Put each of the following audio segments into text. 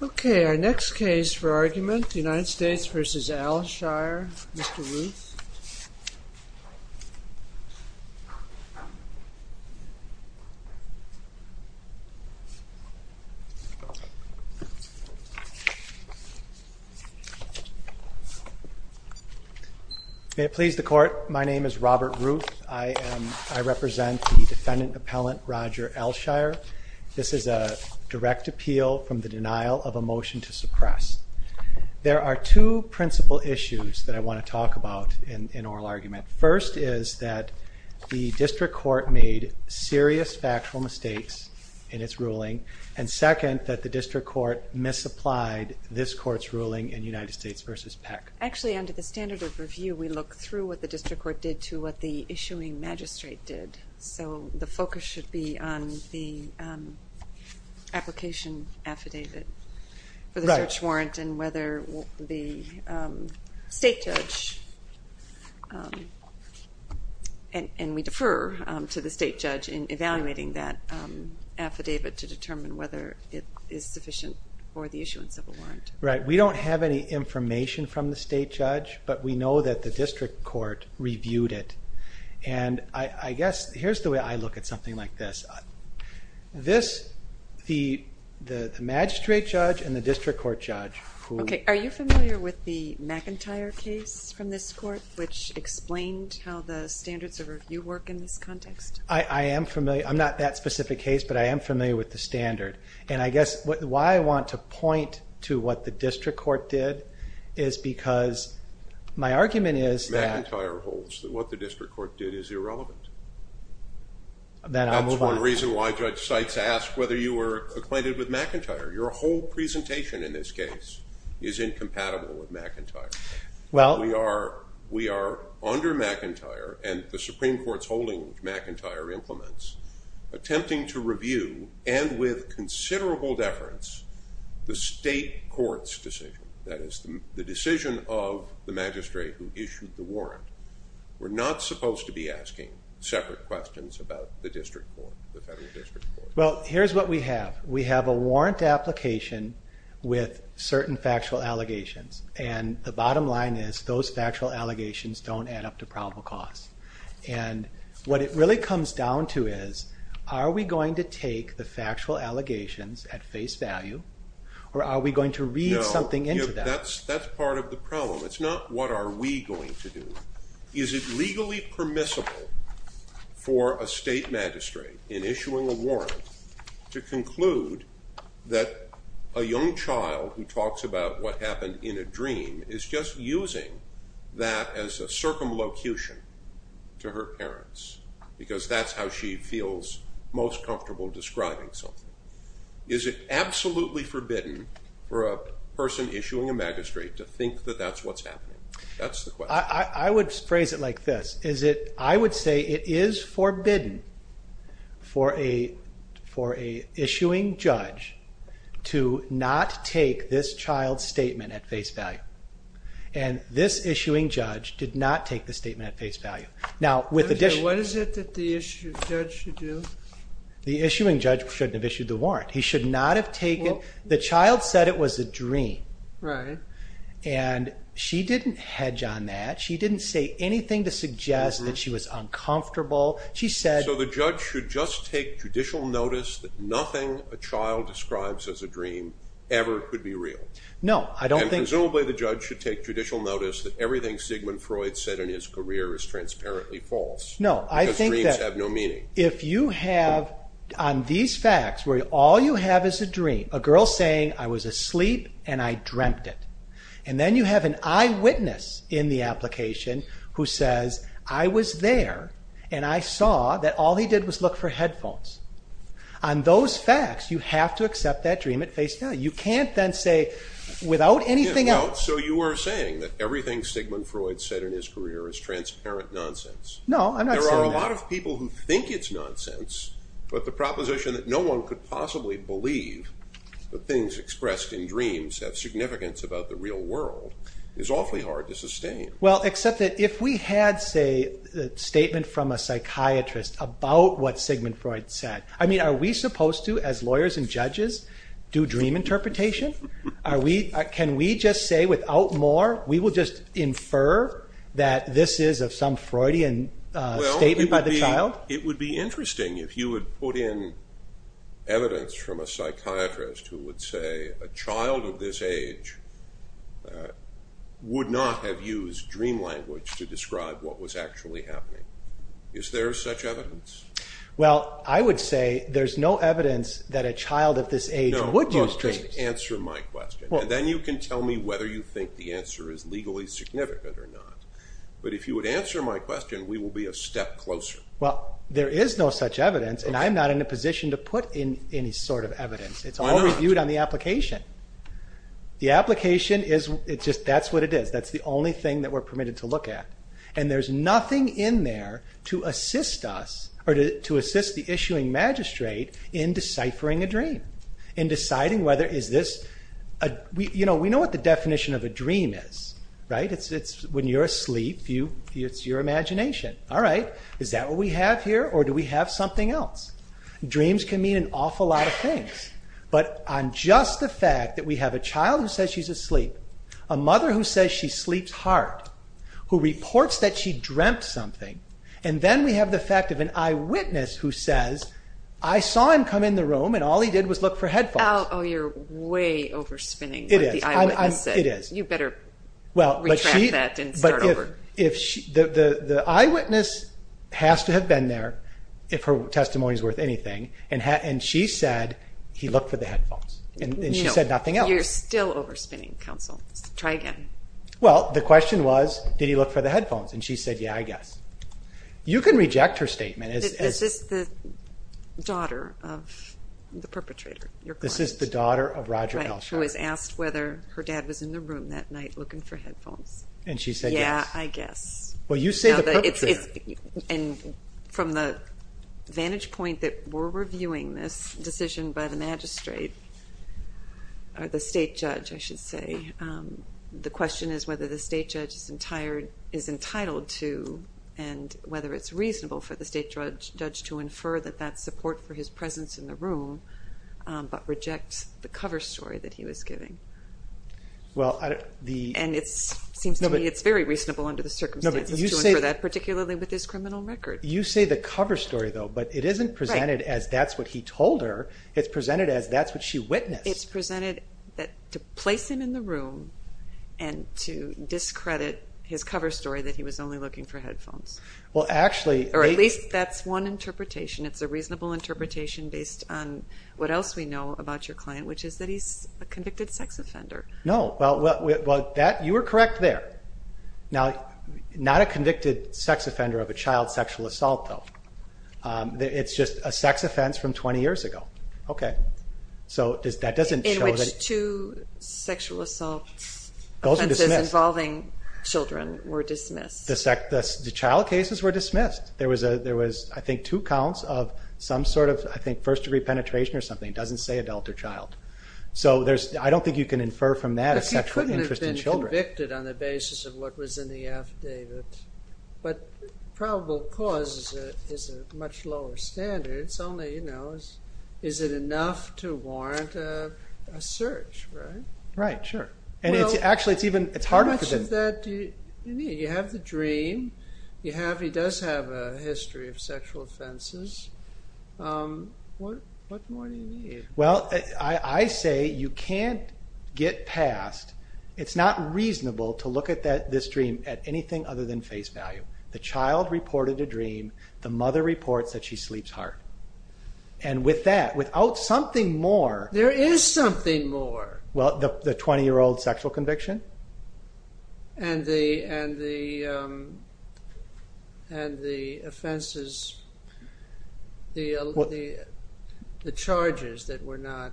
Okay, our next case for argument, United States v. Aleshire, Mr. Ruth. May it please the Court, my name is Robert Ruth. I represent the defendant appellant Roger Aleshire. This is a direct appeal from the denial of a motion to suppress. There are two principal issues that I want to talk about in oral argument. First is that the district court made serious factual mistakes in its ruling, and second that the district court misapplied this court's ruling in United States v. Peck. Actually, under the standard of review, we look through what the district court did to what the issuing magistrate did. So the focus should be on the application affidavit for the search warrant and whether the state judge, and we defer to the state judge in evaluating that affidavit to determine whether it is sufficient for the issuance of a warrant. Right, we don't have any information from the state judge, but we know that the look at something like this. This, the magistrate judge and the district court judge. Okay, are you familiar with the McIntyre case from this court, which explained how the standards of review work in this context? I am familiar, I'm not that specific case, but I am familiar with the standard, and I guess why I want to point to what the district court did is because my argument is that... McIntyre holds that what the district court did is irrelevant. Then I'll move on. That's one reason why Judge Sykes asked whether you were acquainted with McIntyre. Your whole presentation in this case is incompatible with McIntyre. Well, we are, we are under McIntyre, and the Supreme Court's holding which McIntyre implements, attempting to review, and with considerable deference, the state court's decision. That is, the decision of the district court. We're not supposed to be asking separate questions about the district court, the federal district court. Well, here's what we have. We have a warrant application with certain factual allegations, and the bottom line is those factual allegations don't add up to probable cause, and what it really comes down to is, are we going to take the factual allegations at face value, or are we going to read something into that? That's part of the problem. It's not what are we going to do. Is it legally permissible for a state magistrate, in issuing a warrant, to conclude that a young child who talks about what happened in a dream is just using that as a circumlocution to her parents, because that's how she feels most comfortable describing something? Is it absolutely forbidden for a person issuing a magistrate to think that that's what's happening? That's the question. I would phrase it like this. I would say it is forbidden for a issuing judge to not take this child's statement at face value, and this issuing judge did not take the statement at face value. Now, what is it that the issuing judge should do? The issuing judge shouldn't have issued the dream, and she didn't hedge on that. She didn't say anything to suggest that she was uncomfortable. So the judge should just take judicial notice that nothing a child describes as a dream ever could be real? No. Presumably the judge should take judicial notice that everything Sigmund Freud said in his career is transparently false. No, I think that if you have, on these facts, where all you have is a dream, a girl saying, I was asleep and I dreamt it, and then you have an eyewitness in the application who says, I was there and I saw that all he did was look for headphones. On those facts, you have to accept that dream at face value. You can't then say without anything else. So you were saying that everything Sigmund Freud said in his career is transparent nonsense. No, I'm not saying that. There are a lot of people who think it's nonsense, but the possibility to believe that things expressed in dreams have significance about the real world is awfully hard to sustain. Well, except that if we had, say, a statement from a psychiatrist about what Sigmund Freud said, I mean, are we supposed to, as lawyers and judges, do dream interpretation? Can we just say without more, we will just infer that this is of some Freudian statement by the evidence from a psychiatrist who would say a child of this age would not have used dream language to describe what was actually happening. Is there such evidence? Well, I would say there's no evidence that a child of this age would use dreams. No, just answer my question, and then you can tell me whether you think the answer is legally significant or not. But if you would answer my question, we will be a step closer. Well, there is no such evidence, and I'm not in a position to put in any sort of evidence. It's all reviewed on the application. The application is, it's just, that's what it is. That's the only thing that we're permitted to look at, and there's nothing in there to assist us or to assist the issuing magistrate in deciphering a dream, in deciding whether is this a, you know, we know what the definition of a dream is, right? It's when you're asleep, it's your imagination. All right, is that what we have here, or do we have something else? Dreams can mean an awful lot of things, but on just the fact that we have a child who says she's asleep, a mother who says she sleeps hard, who reports that she dreamt something, and then we have the fact of an eyewitness who says, I saw him come in the room and all he did was look for If she, the eyewitness has to have been there, if her testimony is worth anything, and she said he looked for the headphones, and she said nothing else. You're still overspinning, counsel. Try again. Well, the question was, did he look for the headphones? And she said, yeah, I guess. You can reject her statement. Is this the daughter of the perpetrator? This is the daughter of Roger Elsher. Who was asked whether her dad was in the room that night looking for I guess. Well, you say the perpetrator. And from the vantage point that we're reviewing this decision by the magistrate, or the state judge, I should say, the question is whether the state judge is entitled to, and whether it's reasonable for the state judge to infer that that's support for his presence in the room, but reject the cover story that he was giving. And it seems to me it's very reasonable under the circumstances to infer that, particularly with his criminal record. You say the cover story, though, but it isn't presented as that's what he told her. It's presented as that's what she witnessed. It's presented that to place him in the room, and to discredit his cover story that he was only looking for headphones. Well, actually, or at least that's one interpretation. It's a reasonable interpretation based on what else we know about your client, which is that he's a convicted sex offender. No. Well, you were correct there. Now, not a convicted sex offender of a child sexual assault, though. It's just a sex offense from 20 years ago. Okay. So that doesn't show that... In which two sexual assault offenses involving children were dismissed. The child cases were dismissed. There was, I think, two penetration or something. It doesn't say adult or child. So there's, I don't think you can infer from that a sexual interest in children. But he couldn't have been convicted on the basis of what was in the affidavit. But probable cause is a much lower standard. It's only, you know, is it enough to warrant a search, right? Right, sure. And it's actually, it's even, it's harder... How much of that do you need? You have the dream. You have, he does have a history of sexual offenses. What more do you need? Well, I say you can't get past, it's not reasonable to look at this dream at anything other than face value. The child reported a dream. The mother reports that she sleeps hard. And with that, without something more... There is something more. Well, the 20-year-old sexual conviction. And the offenses, the charges that were not...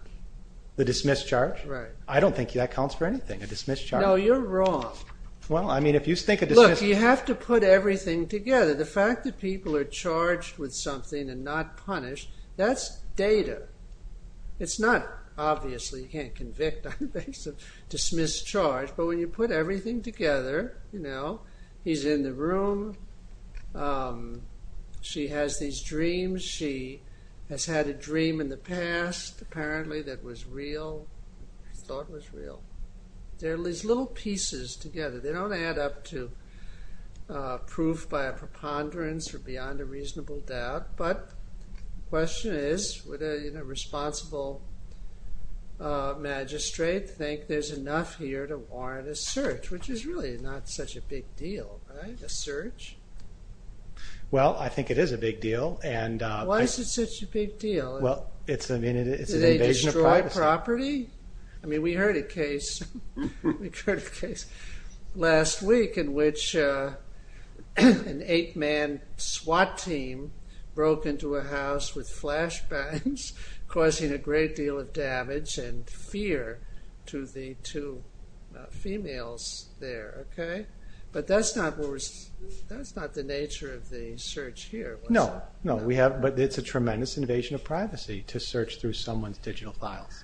The dismiss charge? Right. I don't think that counts for anything, a dismiss charge. No, you're wrong. Well, I mean, if you think of dismiss... Look, you have to put everything together. The fact that people are charged with something and not punished, that's data. It's not, obviously, you can't convict on the basis of dismiss charge. But when you put everything together, you know, he's in the room. She has these dreams. She has had a dream in the past, apparently, that was real, thought was real. They're these little pieces together. They don't add up to proof by a preponderance or beyond a reasonable doubt. But the question is, would a responsible magistrate think there's enough here to warrant a search, which is really not such a big deal, right? A search? Well, I think it is a big deal. Why is it such a big deal? Well, it's an invasion of privacy. Did they destroy property? I mean, we heard a case last week in which an eight-man SWAT team broke into a house with flashbacks, causing a great deal of damage and fear to the two females there. But that's not the nature of the search here. But it's a tremendous invasion of privacy to search through someone's digital files.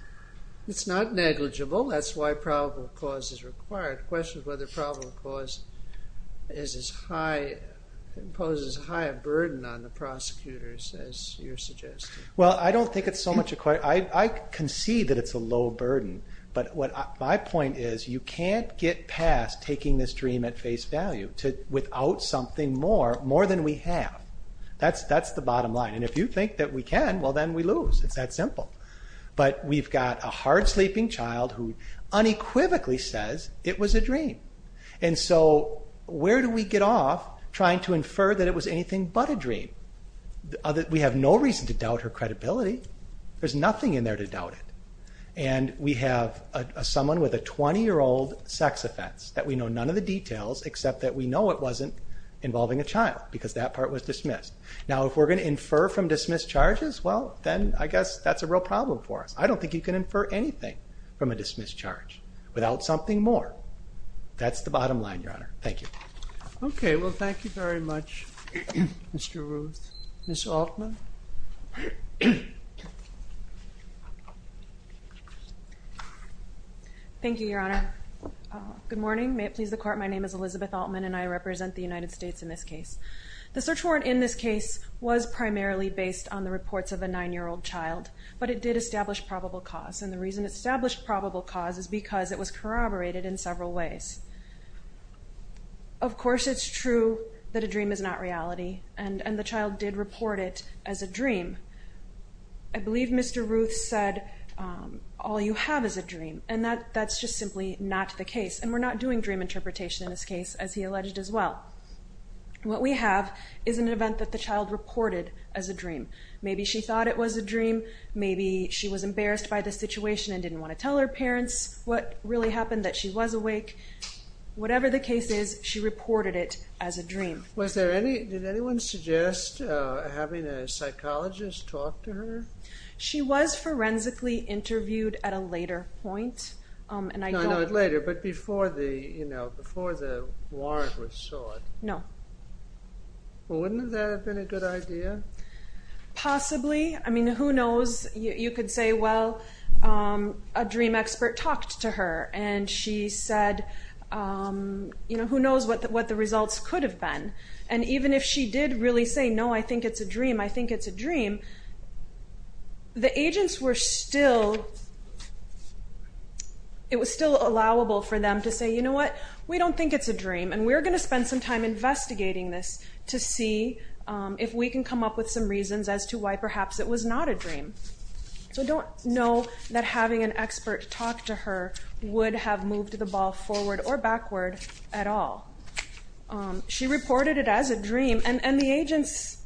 It's not negligible. That's why probable cause is required. The question is whether probable cause poses a higher burden on the prosecutors, as you're suggesting. Well, I concede that it's a low burden. But my point is, you can't get past taking this dream at face value without something more, more than we have. That's the bottom line. And if you think that we can, well, then we lose. It's that simple. But we've got a hard-sleeping child who unequivocally says it was a dream. And so where do we get off trying to infer that it was anything but a dream? We have no reason to doubt her credibility. There's nothing in there to doubt it. And we have someone with a 20-year-old sex offense that we know none of the details, except that we know it wasn't involving a child, because that part was dismissed. Now, if we're going to infer from dismissed charges, well, then I guess that's a real problem for us. I don't think you can infer anything from a dismissed charge without something more. That's the bottom line, Your Honor. Thank you. Okay, well, thank you very much, Mr. Ruth. Ms. Altman? Thank you, Your Honor. Good morning. May it please the Court, my name is Elizabeth Altman, and I represent the United States in this case. The search warrant in this case was primarily based on the reports of a 9-year-old child, but it did establish probable cause. And the reason it established probable cause is because it was corroborated in several ways. Of course it's true that a dream is not reality, and the child did report it as a dream. I believe Mr. Ruth said, all you have is a dream, and that's just simply not the case. And we're not doing dream interpretation in this case, as he alleged as well. What we have is an event that the child reported as a dream. Maybe she thought it was a dream, maybe she was embarrassed by the situation and didn't want to tell her parents what really happened, that she was awake. Whatever the case is, she reported it as a dream. Did anyone suggest having a psychologist talk to her? She was forensically interviewed at a later point. No, not later, but before the warrant was sought. No. Wouldn't that have been a good idea? Possibly. I mean, who knows? You could say, well, a dream expert talked to her, and she said, you know, who knows what the results could have been. And even if she did really say, no, I think it's a dream, I think it's a dream, the agents were still, it was still allowable for them to say, you know what, we don't think it's a dream, and we're going to spend some time investigating this to see if we can come up with some reasons as to why perhaps it was not a dream. So don't know that having an expert talk to her would have moved the ball forward or backward at all. She reported it as a dream, and the agents,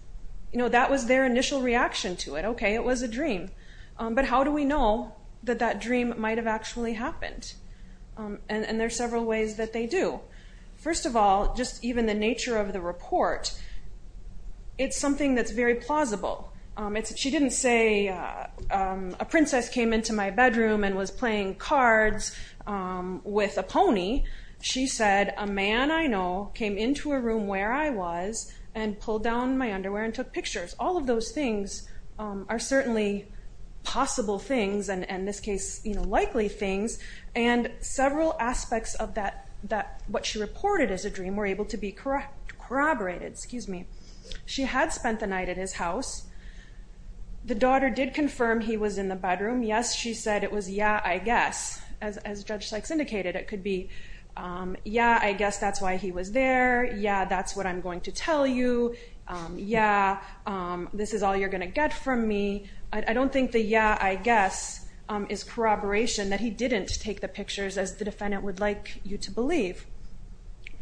you know, that was their initial reaction to it. Okay, it was a dream. But how do we know that that dream might have actually happened? And there are several ways that they do. First of all, just even the nature of the report, it's something that's very plausible. She didn't say, a princess came into my bedroom and was playing cards with a pony. She said, a man I know came into a room where I was and pulled down my underwear and took pictures. All of those things are certainly possible things, and in this case, you know, likely things, and several aspects of what she reported as a dream were able to be corroborated. Excuse me. She had spent the night at his house. The daughter did confirm he was in the bedroom. Yes, she said it was, yeah, I guess. As Judge Sykes indicated, it could be, yeah, I guess that's why he was there. Yeah, that's what I'm going to tell you. Yeah, this is all you're going to get from me. I don't think the yeah, I guess is corroboration, that he didn't take the pictures as the defendant would like you to believe.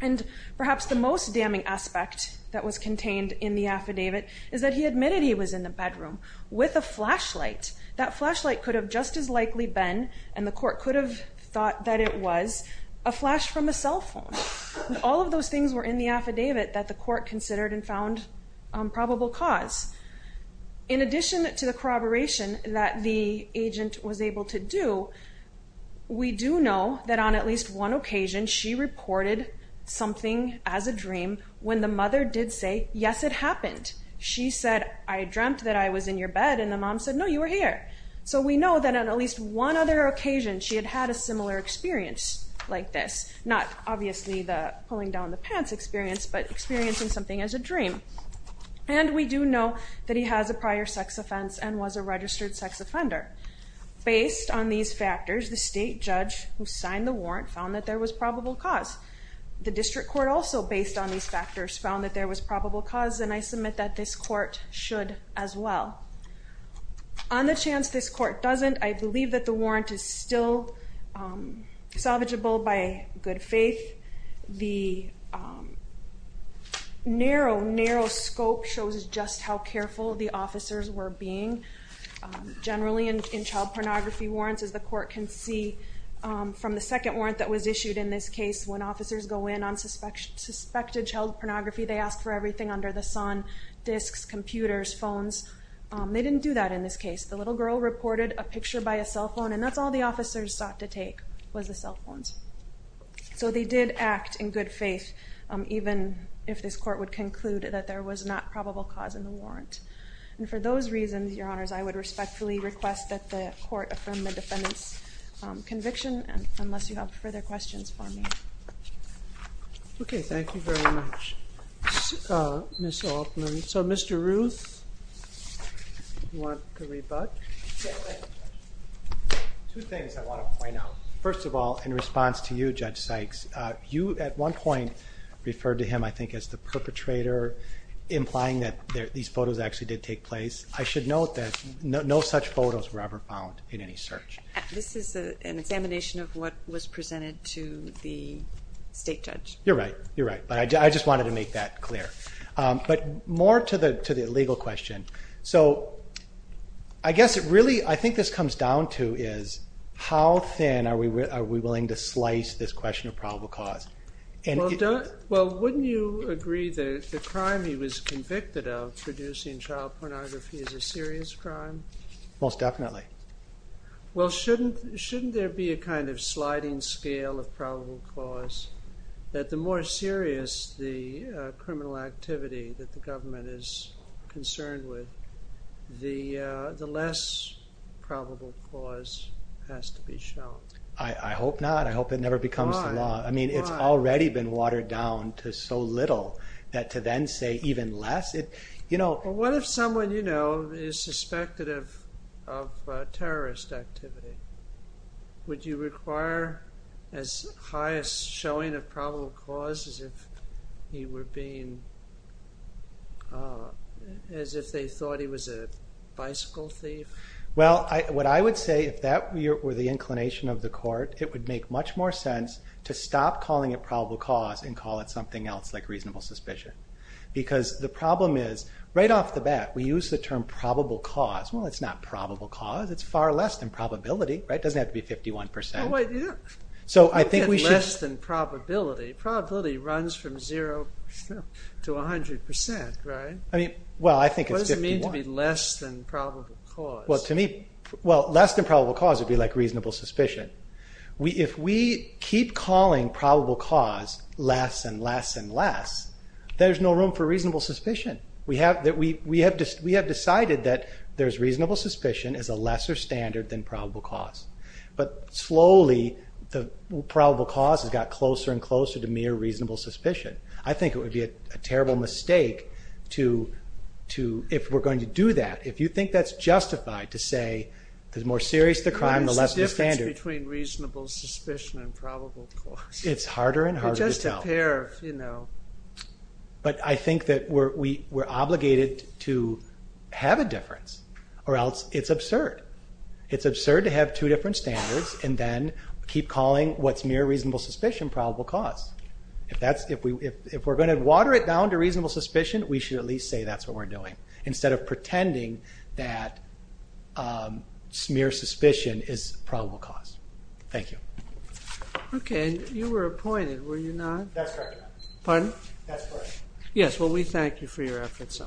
And perhaps the most damning aspect that was contained in the affidavit is that he admitted he was in the bedroom with a flashlight. That flashlight could have just as likely been, and the court could have thought that it was, a flash from a cell phone. All of those things were in the affidavit that the court considered and found probable cause. In addition to the corroboration that the agent was able to do, we do know that on at least one occasion, she reported something as a dream when the mother did say, yes, it happened. She said, I dreamt that I was in your bed, and the mom said, no, you were here. So we know that on at least one other occasion, she had had a similar experience like this. Not obviously the pulling down the pants experience, but experiencing something as a dream. And we do know that he has a prior sex offense and was a registered sex offender. Based on these factors, the state judge who signed the warrant found that there was probable cause. The district court also, based on these factors, found that there was probable cause, and I submit that this court should as well. On the chance this court doesn't, I believe that the warrant is still salvageable by good faith. The narrow, narrow scope shows just how careful the officers were being. Generally in child pornography warrants, as the court can see from the second warrant that was issued in this case, when officers go in on suspected child pornography, they ask for everything under the sun. Disks, computers, phones. They didn't do that in this case. The little girl reported a picture by a cell phone, and that's all the officers sought to take was the cell phones. So they did act in good faith, even if this court would conclude that there was not probable cause in the warrant. And for those reasons, your honors, I would respectfully request that the court affirm the defendant's conviction, unless you have further questions for me. Okay, thank you very much, Ms. Altman. So, Mr. Ruth, you want to rebut? Two things I want to point out. First of all, in response to you, Judge Sykes, you at one point referred to him, I think, as the perpetrator, implying that these photos actually did take place. I should note that no such photos were ever found in any search. This is an examination of what was presented to the state judge. You're right, you're right, but I just wanted to make that clear. But more to the legal question. So I guess it really, I think this comes down to is, how thin are we willing to slice this question of probable cause? Well, wouldn't you agree that the crime he was convicted of, producing child pornography, is a serious crime? Most definitely. Well, shouldn't there be a kind of sliding scale of probable cause, that the more serious the criminal activity that the government is concerned with, the less probable cause has to be shown? I hope not. I hope it never becomes the law. Why? Why? I mean, it's already been watered down to so little that to then say even less? Well, what if someone you know is suspected of terrorist activity? Would you require as high a showing of probable cause as if he were being, as if they thought he was a bicycle thief? Well, what I would say, if that were the inclination of the court, it would make much more sense to stop calling it probable cause and call it something else like reasonable suspicion. Because the problem is, right off the bat, we use the term probable cause. Well, it's not probable cause. It's far less than probability, right? It doesn't have to be 51%. So I think we should... Less than probability. Probability runs from 0 to 100%, right? I mean, well, I think it's 51%. What does it mean to be less than probable cause? Well, to me, less than probable cause would be like reasonable suspicion. If we keep calling probable cause less and less and less, there's no room for reasonable suspicion. We have decided that there's reasonable suspicion as a lesser standard than probable cause. But slowly, the probable cause has got closer and closer to mere reasonable suspicion. I think it would be a terrible mistake to, if we're going to do that, if you think that's justified to say the more serious the crime, the less the standard. What is the difference between reasonable suspicion and probable cause? It's harder and harder to tell. They're just a pair of, you know... But I think that we're obligated to have a difference or else it's absurd. It's absurd to have two different standards and then keep calling what's mere reasonable suspicion probable cause. If we're going to water it down to reasonable suspicion, we should at least say that's what we're doing instead of pretending that mere suspicion is probable cause. Thank you. Okay. You were appointed, were you not? That's correct. Pardon? That's correct. Yes, well we thank you for your efforts.